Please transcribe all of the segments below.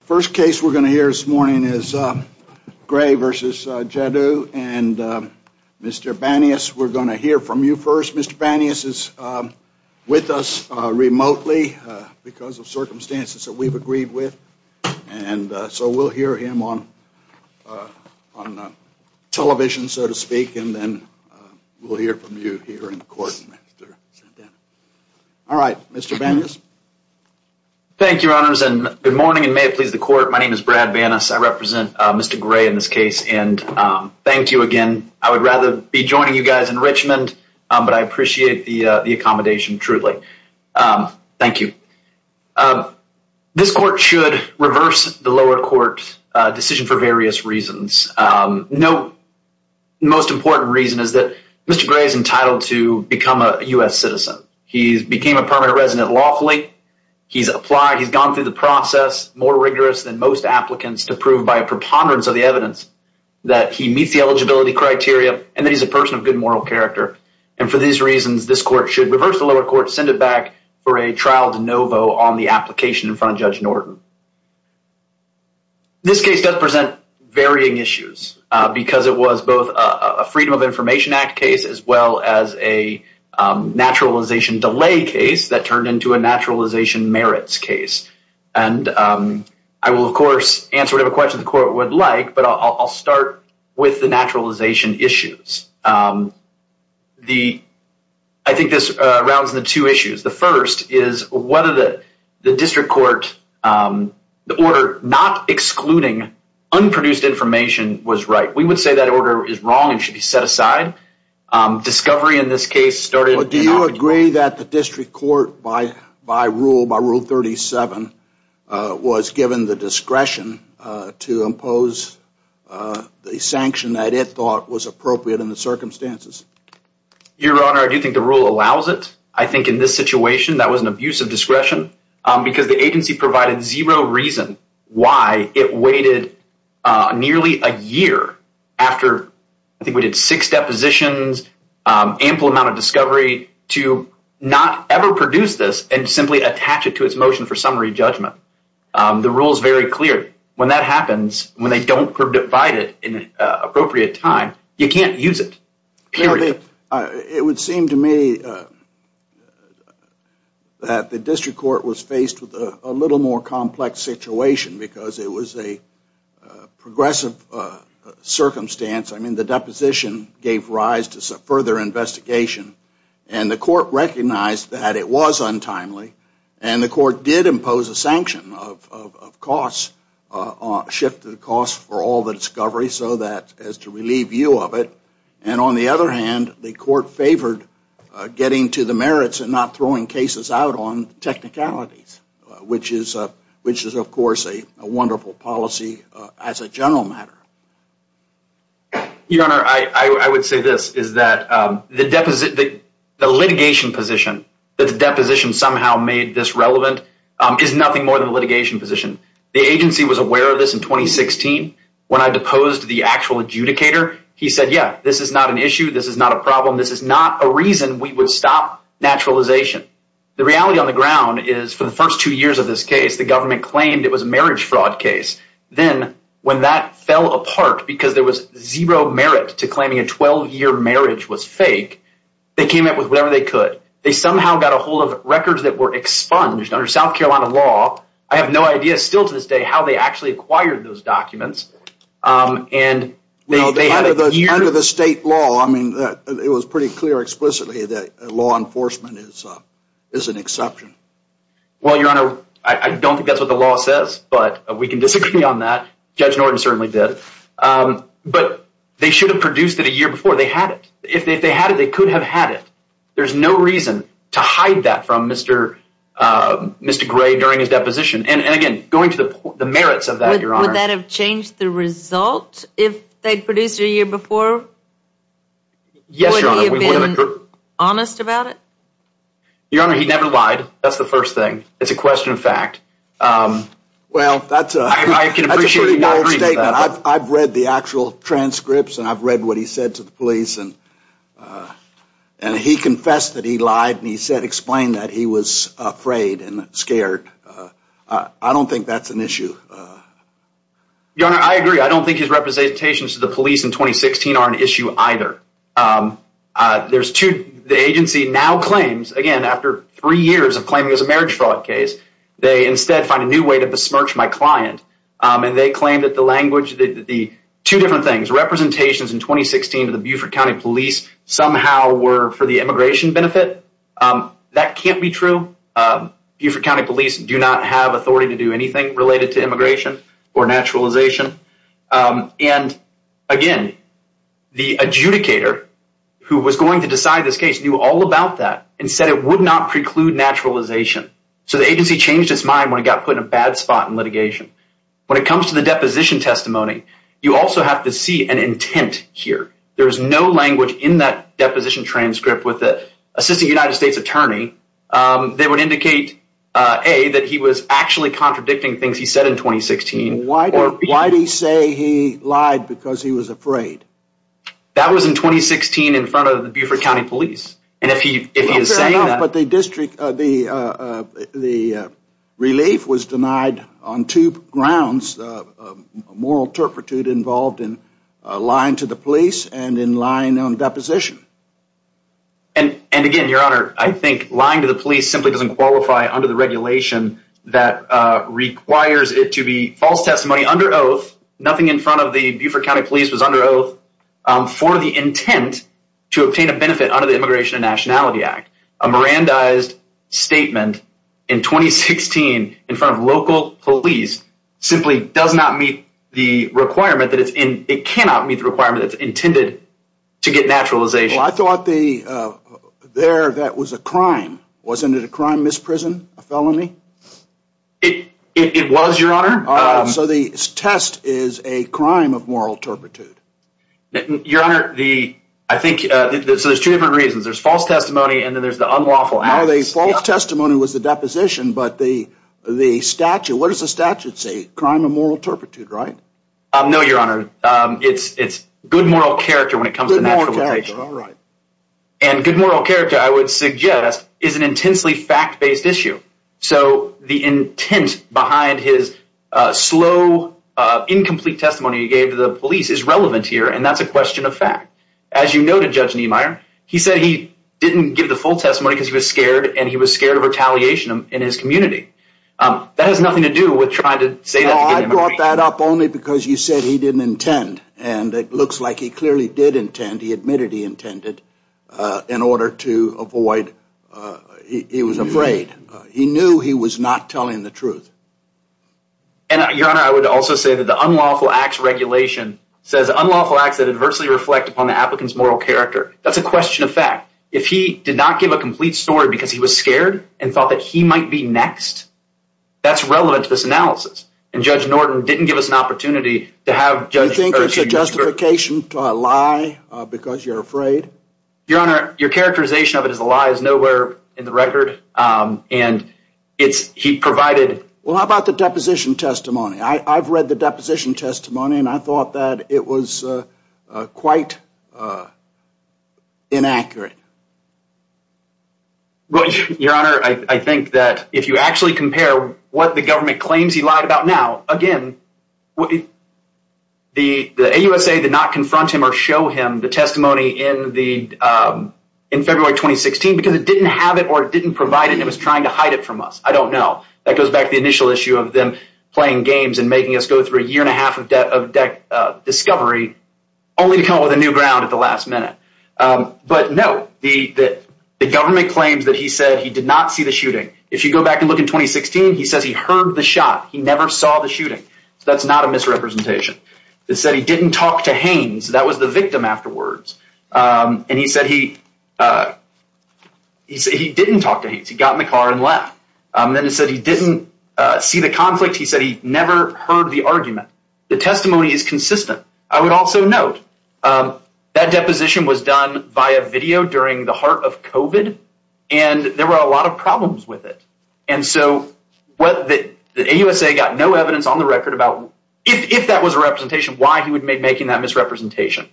The first case we're going to hear this morning is Grey v. Jaddou and Mr. Banias. We're going to hear from you first. Mr. Banias is with us remotely because of circumstances that we've agreed with, and so we'll hear him on television, so to speak, and then we'll hear from you here in court. All right, Mr. Banias. Thank you, Your Honors, and good morning, and may it please the court. My name is Brad Banias. I represent Mr. Grey in this case, and thank you again. I would rather be joining you guys in Richmond, but I appreciate the accommodation, truly. Thank you. This court should reverse the lower court decision for various reasons. The most important reason is that Mr. Grey is entitled to become a U.S. citizen. He became a permanent resident lawfully. He's gone through the process more rigorous than most applicants to prove by a preponderance of the evidence that he meets the eligibility criteria and that he's a person of good moral character. And for these reasons, this court should reverse the lower court, send it back for a trial de novo on the application in front of Judge Norton. This case does present varying issues because it was both a Freedom of Information Act case as well as a naturalization delay case that turned into a naturalization merits case, and I will, of course, answer whatever question the court would like, but I'll start with the naturalization issues. I think this rounds into two issues. The first is whether the district court, the order not excluding unproduced information was right. We would say that order is wrong and should be set aside. Discovery in this case started in October. Do you agree that the district court, by rule 37, was given the discretion to impose the sanction that it thought was appropriate in the circumstances? Your Honor, I do think the rule allows it. I think in this situation, that was an abuse of discretion because the agency provided zero reason why it waited nearly a year after, I think we did six depositions, ample amount of discovery to not ever produce this and simply attach it to its motion for summary judgment. The rule is very clear. When that happens, when they don't provide it in an appropriate time, you can't use it. Period. It would seem to me that the district court was faced with a little more complex situation because it was a progressive circumstance. I mean, the deposition gave rise to further investigation, and the court recognized that it was untimely, and the court did impose a sanction of costs, shifted costs for all the discovery so as to relieve you of it. And on the other hand, the court favored getting to the merits and not throwing cases out on technicalities, which is of course a wonderful policy as a general matter. Your Honor, I would say this, is that the litigation position that the deposition somehow made this relevant is nothing more than a litigation position. The agency was aware of this in 2016. When I deposed the actual adjudicator, he said, yeah, this is not an issue, this is not a problem, this is not a reason we would stop naturalization. The reality on the ground is for the first two years of this case, the government claimed it was a marriage fraud case. Then when that fell apart because there was zero merit to claiming a 12-year marriage was fake, they came up with whatever they could. They somehow got a hold of records that were expunged under South Carolina law. I have no idea still to this day how they actually acquired those documents. Under the state law, it was pretty clear explicitly that law enforcement is an exception. Well, Your Honor, I don't think that's what the law says, but we can disagree on that. Judge Norton certainly did. But they should have produced it a year before. They had it. If they had it, they could have had it. There's no reason to hide that from Mr. Gray during his deposition. And again, going to the merits of that, Your Honor. Would that have changed the result if they produced it a year before? Yes, Your Honor. Would he have been honest about it? Your Honor, he never lied. That's the first thing. It's a question of fact. Well, that's a pretty bold statement. I've read the actual transcripts and I've read what he said to the police. And he confessed that he lied and he explained that he was afraid and scared. I don't think that's an issue. Your Honor, I agree. I don't think his representations to the police in 2016 are an issue either. The agency now claims, again, after three years of claiming it was a marriage fraud case, they instead find a new way to besmirch my client. And they claim that the language, the two different things, representations in 2016 to the Beaufort County Police somehow were for the immigration benefit. That can't be true. Beaufort County Police do not have authority to do anything related to immigration or naturalization. And, again, the adjudicator who was going to decide this case knew all about that and said it would not preclude naturalization. So the agency changed its mind when it got put in a bad spot in litigation. When it comes to the deposition testimony, you also have to see an intent here. There is no language in that deposition transcript with the Assistant United States Attorney that would indicate, A, that he was actually contradicting things he said in 2016. Why did he say he lied because he was afraid? That was in 2016 in front of the Beaufort County Police. Fair enough, but the relief was denied on two grounds. Moral turpitude involved in lying to the police and in lying on deposition. And, again, Your Honor, I think lying to the police simply doesn't qualify under the regulation that requires it to be false testimony under oath. Nothing in front of the Beaufort County Police was under oath for the intent to obtain a benefit under the Immigration and Nationality Act. A Mirandized statement in 2016 in front of local police simply does not meet the requirement that it's intended to get naturalization. Well, I thought there that was a crime. Wasn't it a crime, misprison, a felony? It was, Your Honor. So the test is a crime of moral turpitude. Your Honor, I think there's two different reasons. There's false testimony and then there's the unlawful acts. No, the false testimony was the deposition, but the statute, what does the statute say? Crime of moral turpitude, right? No, Your Honor. It's good moral character when it comes to naturalization. Good moral character, all right. And good moral character, I would suggest, is an intensely fact-based issue. So the intent behind his slow, incomplete testimony he gave to the police is relevant here, and that's a question of fact. As you noted, Judge Niemeyer, he said he didn't give the full testimony because he was scared, and he was scared of retaliation in his community. That has nothing to do with trying to say that. No, I brought that up only because you said he didn't intend, and it looks like he clearly did intend. He admitted he intended in order to avoid, he was afraid. He knew he was not telling the truth. And, Your Honor, I would also say that the unlawful acts regulation says unlawful acts that adversely reflect upon the applicant's moral character. That's a question of fact. If he did not give a complete story because he was scared and thought that he might be next, that's relevant to this analysis. And Judge Norton didn't give us an opportunity to have Judge Hershey. Do you think it's a justification to lie because you're afraid? Your Honor, your characterization of it as a lie is nowhere in the record, and it's, he provided. Well, how about the deposition testimony? I've read the deposition testimony, and I thought that it was quite inaccurate. Your Honor, I think that if you actually compare what the government claims he lied about now, again, the AUSA did not confront him or show him the testimony in February 2016 because it didn't have it or it didn't provide it. It was trying to hide it from us. I don't know. That goes back to the initial issue of them playing games and making us go through a year and a half of discovery only to come up with a new ground at the last minute. But no, the government claims that he said he did not see the shooting. If you go back and look in 2016, he says he heard the shot. He never saw the shooting. So that's not a misrepresentation. It said he didn't talk to Haynes. That was the victim afterwards. And he said he didn't talk to Haynes. He got in the car and left. Then he said he didn't see the conflict. He said he never heard the argument. The testimony is consistent. I would also note that deposition was done via video during the heart of COVID, and there were a lot of problems with it. And so what the AUSA got no evidence on the record about if that was a representation, why he would make making that misrepresentation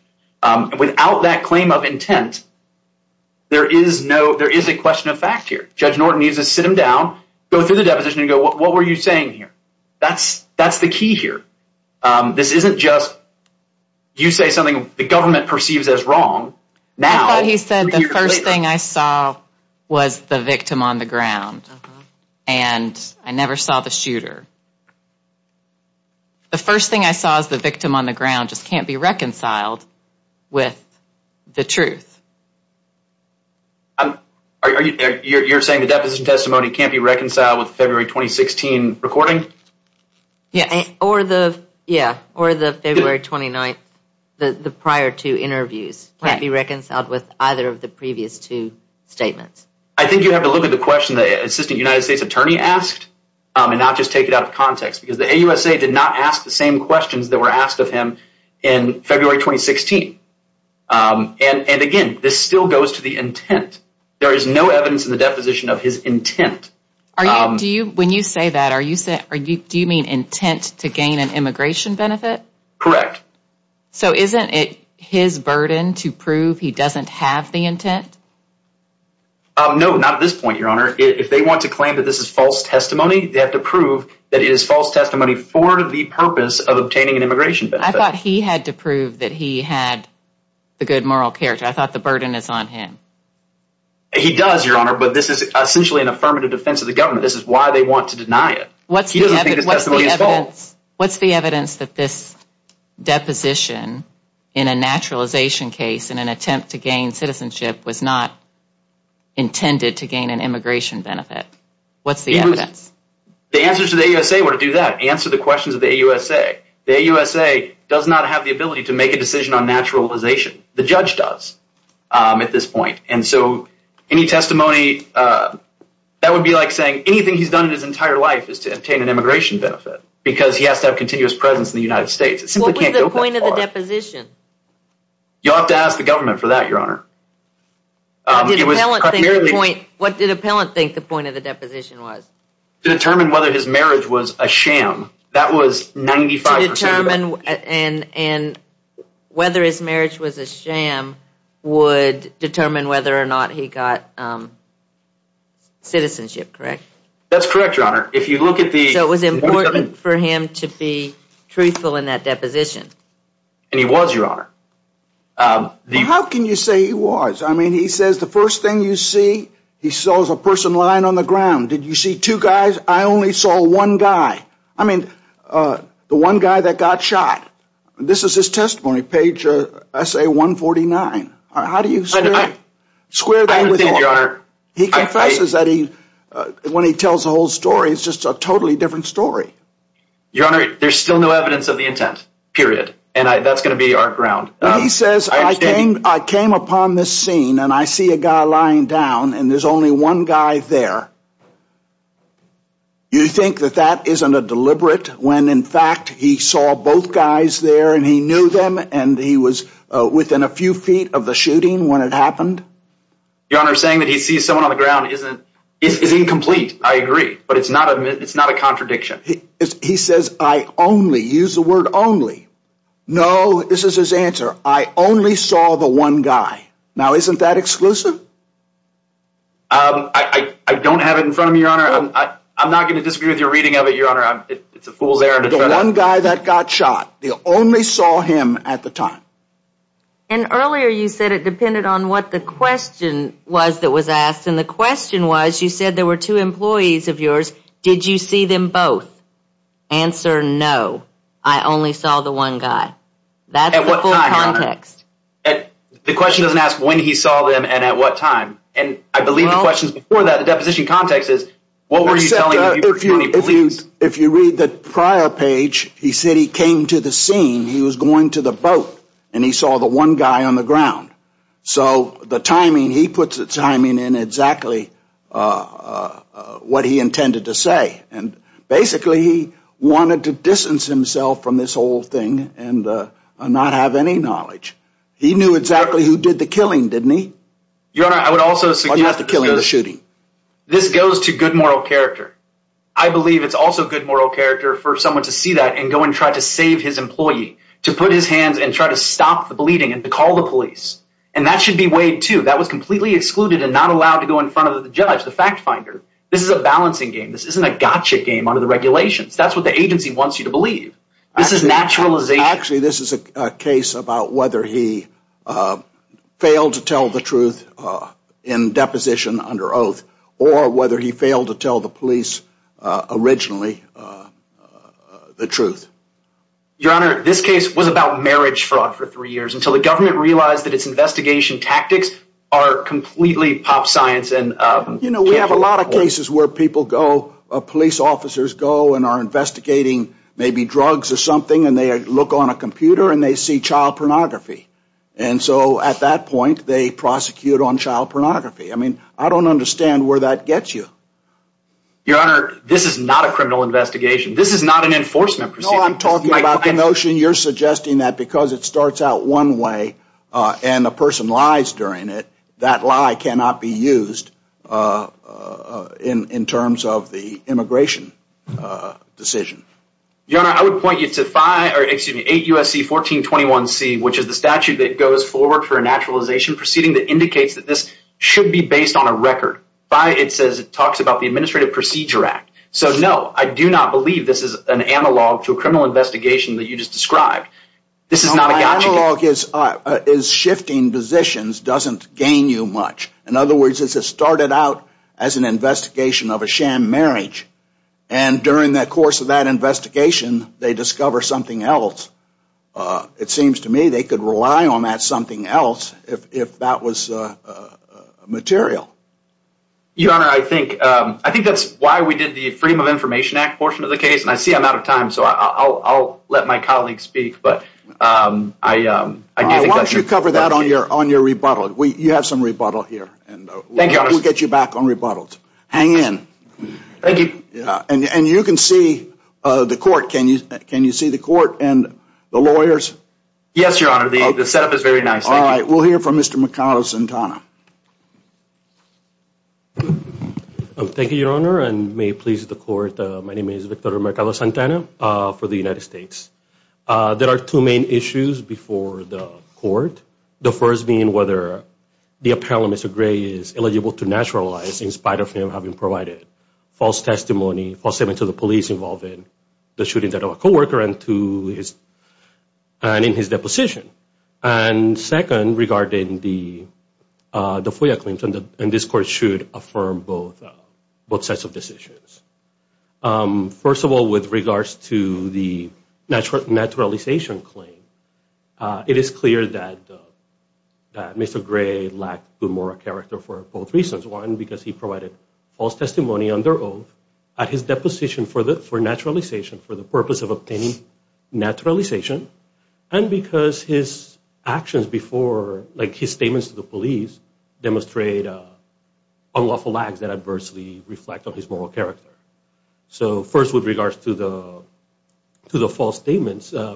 without that claim of intent. There is no there is a question of fact here. Judge Norton needs to sit him down, go through the deposition and go, what were you saying here? That's that's the key here. This isn't just you say something the government perceives as wrong now. He said the first thing I saw was the victim on the ground and I never saw the shooter. The first thing I saw is the victim on the ground just can't be reconciled with the truth. Are you you're saying the deposition testimony can't be reconciled with February 2016 recording? Yeah, or the yeah, or the February 29th. The prior two interviews can't be reconciled with either of the previous two statements. I think you have to look at the question the assistant United States attorney asked and not just take it out of context because the AUSA did not ask the same questions that were asked of him in February 2016. And again, this still goes to the intent. There is no evidence in the deposition of his intent. Are you do you when you say that are you say are you do you mean intent to gain an immigration benefit? Correct. So isn't it his burden to prove he doesn't have the intent? No, not at this point, your honor. If they want to claim that this is false testimony, they have to prove that it is false testimony for the purpose of obtaining an immigration. But I thought he had to prove that he had the good moral character. I thought the burden is on him. He does, your honor. But this is essentially an affirmative defense of the government. This is why they want to deny it. What's the evidence? What's the evidence that this deposition in a naturalization case in an attempt to gain citizenship was not intended to gain an immigration benefit? What's the evidence? The answers to the AUSA were to do that answer the questions of the AUSA. The AUSA does not have the ability to make a decision on naturalization. The judge does at this point. And so any testimony, that would be like saying anything he's done in his entire life is to obtain an immigration benefit. Because he has to have continuous presence in the United States. It simply can't go that far. What was the point of the deposition? You'll have to ask the government for that, your honor. What did Appellant think the point of the deposition was? To determine whether his marriage was a sham. To determine whether his marriage was a sham would determine whether or not he got citizenship, correct? That's correct, your honor. So it was important for him to be truthful in that deposition. And he was, your honor. How can you say he was? I mean, he says the first thing you see, he saw a person lying on the ground. Did you see two guys? I only saw one guy. I mean, the one guy that got shot. This is his testimony, page I say 149. How do you square that? I understand, your honor. He confesses that when he tells the whole story, it's just a totally different story. Your honor, there's still no evidence of the intent, period. And that's going to be our ground. He says, I came upon this scene and I see a guy lying down and there's only one guy there. You think that that isn't a deliberate when in fact he saw both guys there and he knew them and he was within a few feet of the shooting when it happened? Your honor, saying that he sees someone on the ground is incomplete, I agree. But it's not a contradiction. He says, I only, use the word only. No, this is his answer. I only saw the one guy. Now, isn't that exclusive? I don't have it in front of me, your honor. I'm not going to disagree with your reading of it, your honor. It's a fool's error. The one guy that got shot, they only saw him at the time. And earlier you said it depended on what the question was that was asked. And the question was, you said there were two employees of yours. Did you see them both? Answer, no. I only saw the one guy. That's the full context. The question doesn't ask when he saw them and at what time. And I believe the question is before that, the deposition context is, what were you telling him? If you read the prior page, he said he came to the scene, he was going to the boat, and he saw the one guy on the ground. So the timing, he puts the timing in exactly what he intended to say. And basically he wanted to distance himself from this whole thing and not have any knowledge. He knew exactly who did the killing, didn't he? Your honor, I would also suggest that this goes to good moral character. I believe it's also good moral character for someone to see that and go and try to save his employee. To put his hands and try to stop the bleeding and to call the police. And that should be weighed too. That was completely excluded and not allowed to go in front of the judge, the fact finder. This is a balancing game. This isn't a gotcha game under the regulations. That's what the agency wants you to believe. This is naturalization. Actually, this is a case about whether he failed to tell the truth in deposition under oath or whether he failed to tell the police originally the truth. Your honor, this case was about marriage fraud for three years until the government realized that its investigation tactics are completely pop science. You know, we have a lot of cases where people go, police officers go and are investigating maybe drugs or something and they look on a computer and they see child pornography. And so at that point, they prosecute on child pornography. I mean, I don't understand where that gets you. Your honor, this is not a criminal investigation. This is not an enforcement procedure. No, I'm talking about the notion you're suggesting that because it starts out one way and the person lies during it, that lie cannot be used in terms of the immigration decision. Your honor, I would point you to 8 U.S.C. 1421C, which is the statute that goes forward for a naturalization proceeding that indicates that this should be based on a record. It talks about the Administrative Procedure Act. So no, I do not believe this is an analog to a criminal investigation that you just described. My analog is shifting positions doesn't gain you much. In other words, it started out as an investigation of a sham marriage. And during the course of that investigation, they discover something else. It seems to me they could rely on that something else if that was material. Your honor, I think that's why we did the Freedom of Information Act portion of the case. And I see I'm out of time, so I'll let my colleagues speak. Why don't you cover that on your rebuttal? You have some rebuttal here. We'll get you back on rebuttals. Hang in. Thank you. And you can see the court. Can you see the court and the lawyers? Yes, your honor. The setup is very nice. All right. We'll hear from Mr. McConnell-Santana. Thank you, your honor, and may it please the court. My name is Victor Mercado-Santana for the United States. There are two main issues before the court, the first being whether the appellant, Mr. Gray, is eligible to naturalize in spite of him having provided false testimony, false statement to the police involving the shooting of a co-worker and in his deposition. And second, regarding the FOIA claims, and this court should affirm both sets of decisions. First of all, with regards to the naturalization claim, it is clear that Mr. Gray lacked the moral character for both reasons. One, because he provided false testimony under oath at his deposition for naturalization, for the purpose of obtaining naturalization. And because his actions before, like his statements to the police, demonstrate unlawful acts that adversely reflect on his moral character. So first, with regards to the false statements, I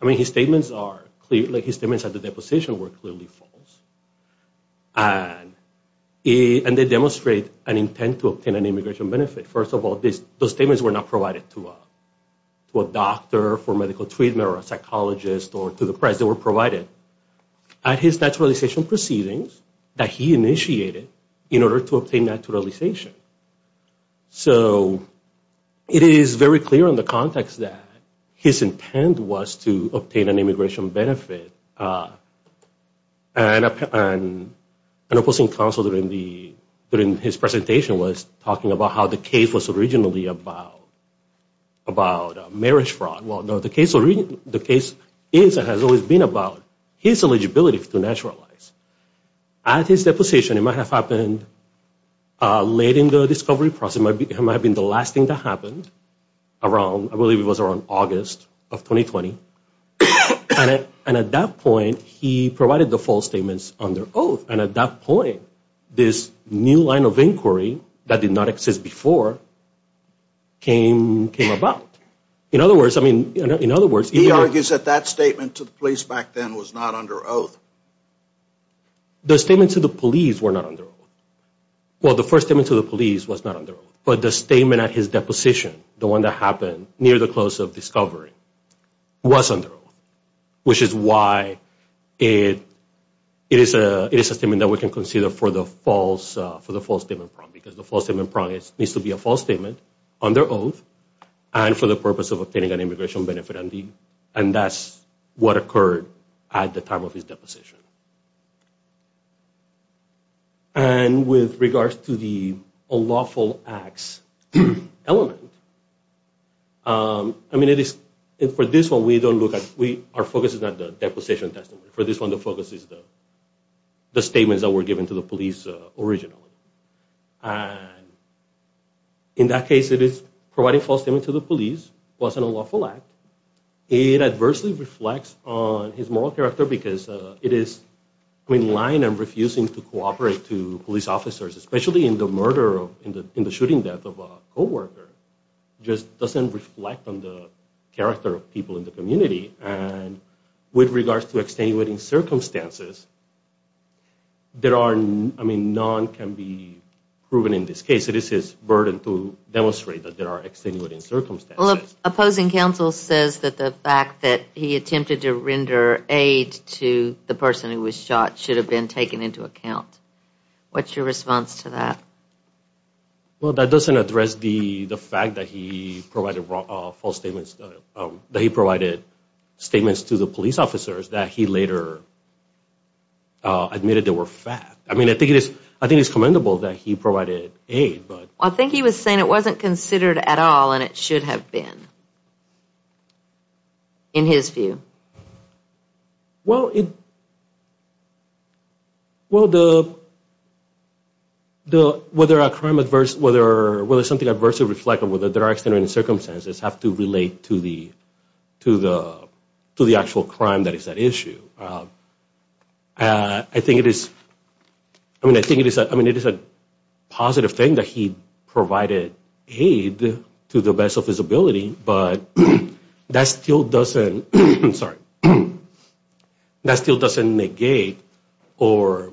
mean his statements are clear, like his statements at the deposition were clearly false. And they demonstrate an intent to obtain an immigration benefit. First of all, those statements were not provided to a doctor for medical treatment or a psychologist or to the press. They were provided at his naturalization proceedings that he initiated in order to obtain naturalization. So it is very clear in the context that his intent was to obtain an immigration benefit. And opposing counsel, during his presentation, was talking about how the case was originally about marriage fraud. Well, no, the case is and has always been about his eligibility to naturalize. At his deposition, it might have happened late in the discovery process. It might have been the last thing that happened around, I believe it was around August of 2020. And at that point, he provided the false statements under oath. And at that point, this new line of inquiry that did not exist before came about. In other words, I mean, in other words- He argues that that statement to the police back then was not under oath. The statements to the police were not under oath. Well, the first statement to the police was not under oath. But the statement at his deposition, the one that happened near the close of discovery, was under oath. Which is why it is a statement that we can consider for the false statement prompt. Because the false statement prompt needs to be a false statement under oath and for the purpose of obtaining an immigration benefit. And that's what occurred at the time of his deposition. And with regards to the unlawful acts element, I mean, for this one, we don't look at- Our focus is not the deposition testimony. For this one, the focus is the statements that were given to the police originally. And in that case, it is providing false statements to the police. It was an unlawful act. It adversely reflects on his moral character because it is lying and refusing to cooperate to police officers, especially in the murder, in the shooting death of a co-worker. It just doesn't reflect on the character of people in the community. And with regards to extenuating circumstances, there are- I mean, none can be proven in this case. It is his burden to demonstrate that there are extenuating circumstances. Well, the opposing counsel says that the fact that he attempted to render aid to the person who was shot should have been taken into account. What's your response to that? Well, that doesn't address the fact that he provided false statements- that he provided statements to the police officers that he later admitted they were fact. I mean, I think it is commendable that he provided aid, but- I think he was saying it wasn't considered at all, and it should have been, in his view. Well, it- well, the- whether a crime adverse- whether something adverse is reflected, whether there are extenuating circumstances, have to relate to the actual crime that is at issue. I think it is- I mean, I think it is a- I mean, it is a positive thing that he provided aid to the best of his ability, but that still doesn't- I'm sorry. That still doesn't negate or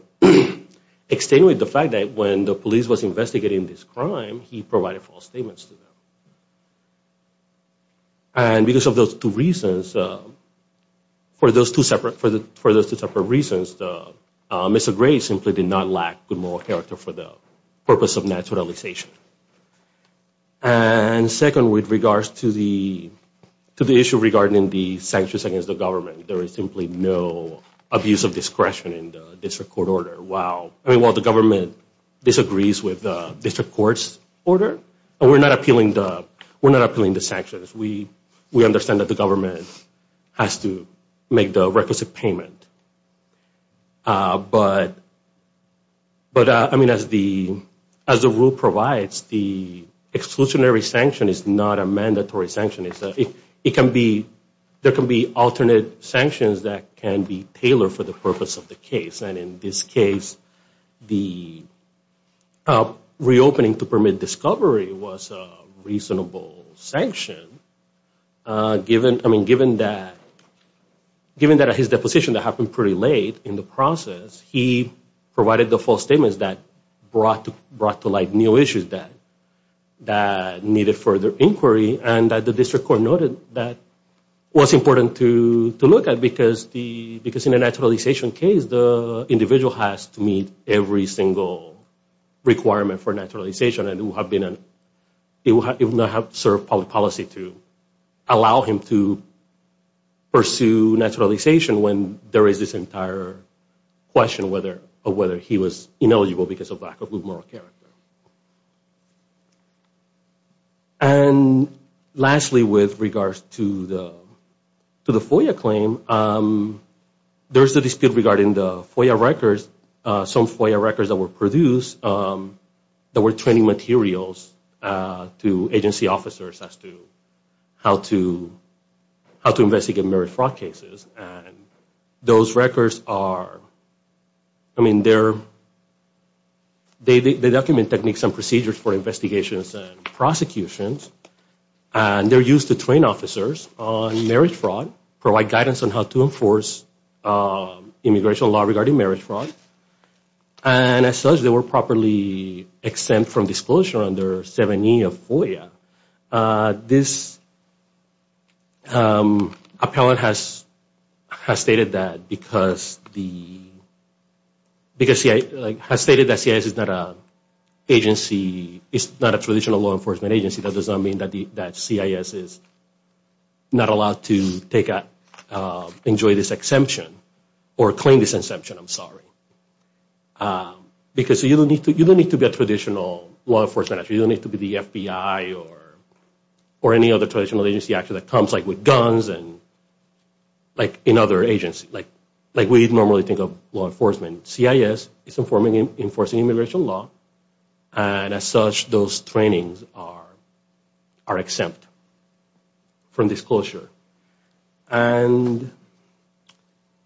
extenuate the fact that when the police was investigating this crime, he provided false statements to them. And because of those two reasons- for those two separate reasons, Mr. Gray simply did not lack good moral character for the purpose of naturalization. And second, with regards to the issue regarding the sanctions against the government, there is simply no abuse of discretion in the district court order. While the government disagrees with the district court's order, we're not appealing the sanctions. We understand that the government has to make the requisite payment. But, I mean, as the rule provides, the exclusionary sanction is not a mandatory sanction. It can be- there can be alternate sanctions that can be tailored for the purpose of the case. And in this case, the reopening to permit discovery was a reasonable sanction. I mean, given that- given that his deposition happened pretty late in the process, he provided the false statements that brought to light new issues that needed further inquiry, and that the district court noted that was important to look at because in a naturalization case, the individual has to meet every single requirement for naturalization and it would not have served public policy to allow him to pursue naturalization when there is this entire question of whether he was ineligible because of lack of good moral character. And lastly, with regards to the FOIA claim, there's a dispute regarding the FOIA records, some FOIA records that were produced that were training materials to agency officers as to how to investigate merit fraud cases. Those records are- I mean, they're- they document techniques and procedures for investigations and prosecutions and they're used to train officers on merit fraud, provide guidance on how to enforce immigration law regarding merit fraud. And as such, they were properly exempt from disclosure under 7E of FOIA. This appellant has stated that because the- because he has stated that CIS is not a traditional law enforcement agency, that does not mean that CIS is not allowed to enjoy this exemption or claim this exemption, I'm sorry. Because you don't need to be a traditional law enforcement- you don't need to be the FBI or any other traditional agency that comes like with guns and like in other agencies. Like we normally think of law enforcement. CIS is enforcing immigration law, and as such, those trainings are exempt from disclosure. And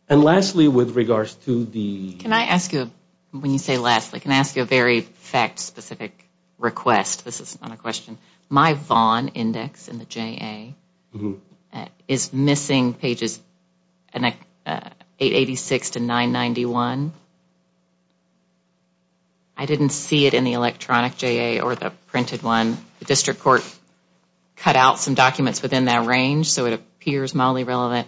lastly, with regards to the- This is not a question. My Vaughn index in the JA is missing pages 886 to 991. I didn't see it in the electronic JA or the printed one. The district court cut out some documents within that range, so it appears mildly relevant.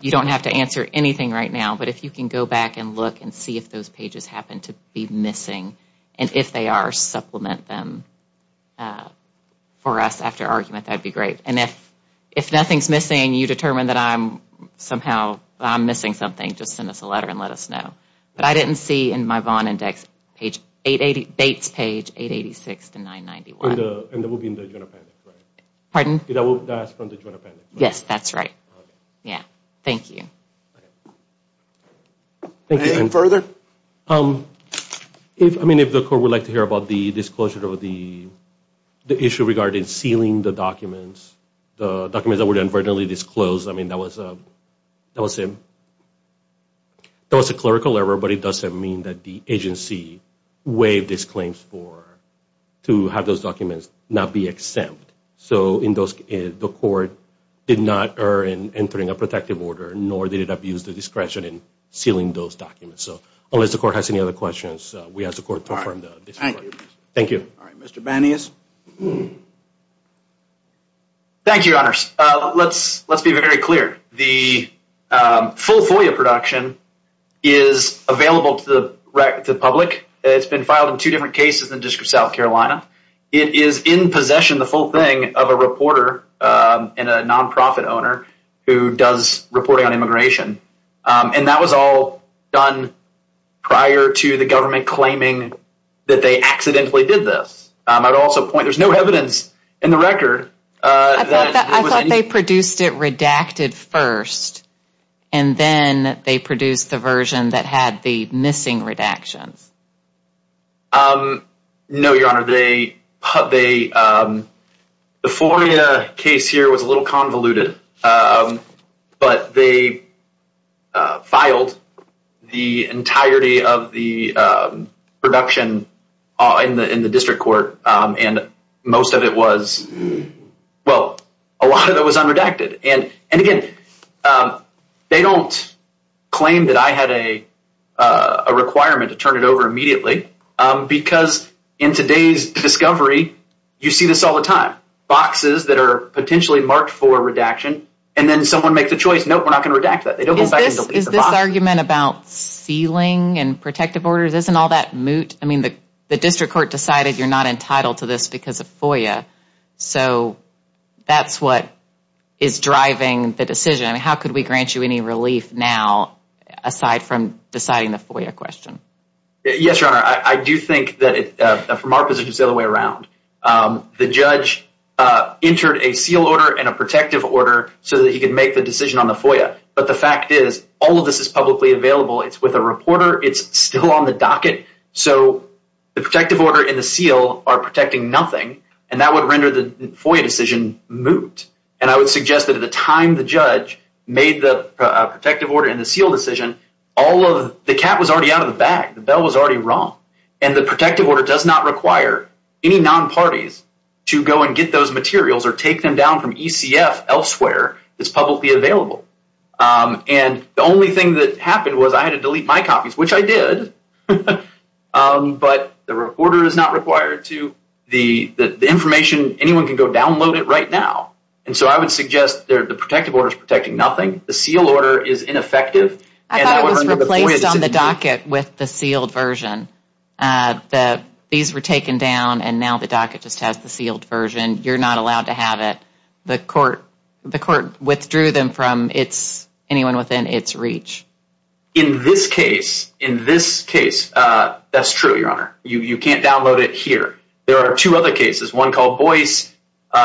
You don't have to answer anything right now, but if you can go back and look and see if those pages happen to be missing and if they are, supplement them for us after argument. That would be great. And if nothing is missing, you determine that I'm somehow missing something, just send us a letter and let us know. But I didn't see in my Vaughn index, Bates page 886 to 991. And that would be in the June appendix, right? Pardon? That's from the June appendix. Yes, that's right. Thank you. Any further? I mean, if the court would like to hear about the disclosure of the issue regarding sealing the documents, the documents that were inadvertently disclosed, I mean, that was a clerical error, but it doesn't mean that the agency waived its claims to have those documents not be exempt. So the court did not err in entering a protective order nor did it abuse the discretion in sealing those documents. So unless the court has any other questions, we ask the court to confirm the disclosure. Thank you. All right, Mr. Banias. Thank you, Your Honors. Let's be very clear. The full FOIA production is available to the public. It's been filed in two different cases in the District of South Carolina. It is in possession, the full thing, of a reporter and a nonprofit owner who does reporting on immigration. And that was all done prior to the government claiming that they accidentally did this. I would also point, there's no evidence in the record. I thought they produced it redacted first and then they produced the version that had the missing redactions. No, Your Honor. The FOIA case here was a little convoluted, but they filed the entirety of the production in the district court and most of it was, well, a lot of it was unredacted. And again, they don't claim that I had a requirement to turn it over immediately because in today's discovery, you see this all the time. Boxes that are potentially marked for redaction and then someone makes a choice, no, we're not going to redact that. They don't go back and delete the box. Is this argument about sealing and protective orders, isn't all that moot? I mean, the district court decided you're not entitled to this because of FOIA, so that's what is driving the decision. I mean, how could we grant you any relief now aside from deciding the FOIA question? Yes, Your Honor. I do think that from our position, it's the other way around. The judge entered a seal order and a protective order so that he could make the decision on the FOIA. But the fact is all of this is publicly available. It's with a reporter. It's still on the docket. So the protective order and the seal are protecting nothing, and that would render the FOIA decision moot. And I would suggest that at the time the judge made the protective order and the seal decision, the cat was already out of the bag. The bell was already rung. And the protective order does not require any non-parties to go and get those materials or take them down from ECF elsewhere. It's publicly available. And the only thing that happened was I had to delete my copies, which I did. But the reporter is not required to. The information, anyone can go download it right now. And so I would suggest the protective order is protecting nothing. The seal order is ineffective. I thought it was replaced on the docket with the sealed version. These were taken down, and now the docket just has the sealed version. You're not allowed to have it. The court withdrew them from anyone within its reach. In this case, that's true, Your Honor. You can't download it here. There are two other cases, one called Boyce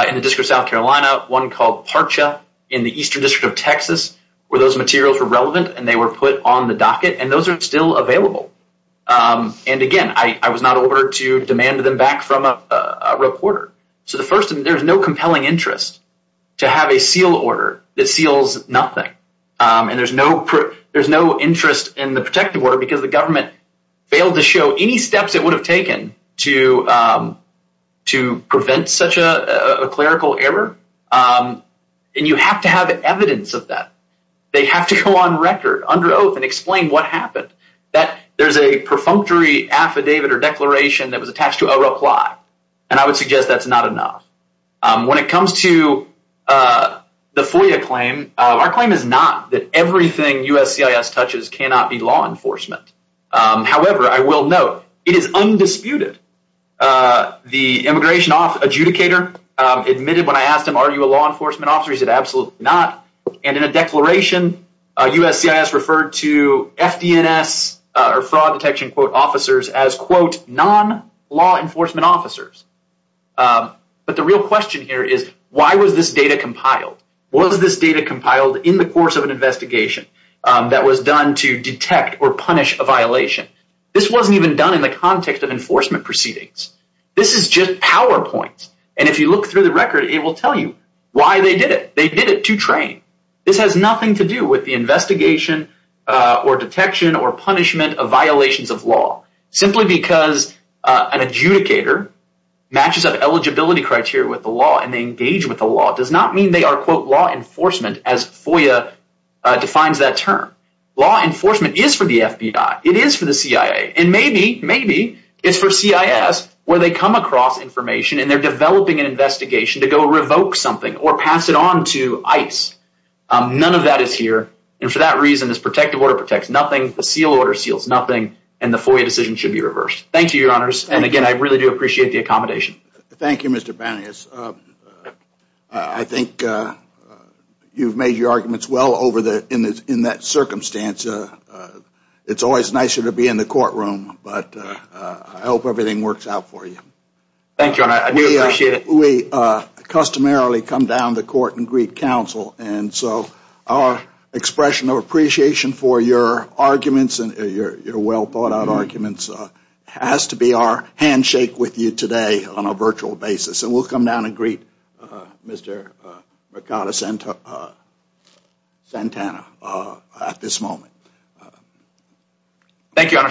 in the District of South Carolina, one called Parcha in the Eastern District of Texas, where those materials were relevant and they were put on the docket. And those are still available. And, again, I was not ordered to demand them back from a reporter. So the first, there's no compelling interest to have a seal order that seals nothing. And there's no interest in the protective order because the government failed to show any steps it would have taken to prevent such a clerical error. And you have to have evidence of that. They have to go on record, under oath, and explain what happened. There's a perfunctory affidavit or declaration that was attached to a reply, and I would suggest that's not enough. When it comes to the FOIA claim, our claim is not that everything USCIS touches cannot be law enforcement. However, I will note, it is undisputed. The immigration adjudicator admitted when I asked him, are you a law enforcement officer, he said, absolutely not. And in a declaration, USCIS referred to FDNS or fraud detection, quote, officers as, quote, non-law enforcement officers. But the real question here is, why was this data compiled? Was this data compiled in the course of an investigation that was done to detect or punish a violation? This wasn't even done in the context of enforcement proceedings. This is just PowerPoint, and if you look through the record, it will tell you why they did it. They did it to train. This has nothing to do with the investigation or detection or punishment of violations of law. Simply because an adjudicator matches up eligibility criteria with the law and they engage with the law does not mean they are, quote, law enforcement, as FOIA defines that term. Law enforcement is for the FBI. It is for the CIA. And maybe, maybe it's for CIS where they come across information and they're developing an investigation to go revoke something or pass it on to ICE. None of that is here. And for that reason, this protective order protects nothing, the seal order seals nothing, and the FOIA decision should be reversed. Thank you, Your Honors. And, again, I really do appreciate the accommodation. Thank you, Mr. Banias. I think you've made your arguments well in that circumstance. It's always nicer to be in the courtroom, but I hope everything works out for you. Thank you, Your Honor. I do appreciate it. We customarily come down to court and greet counsel, and so our expression of appreciation for your arguments, your well-thought-out arguments, has to be our handshake with you today on a virtual basis. And we'll come down and greet Mr. Ricardo Santana at this moment. Thank you, Your Honors.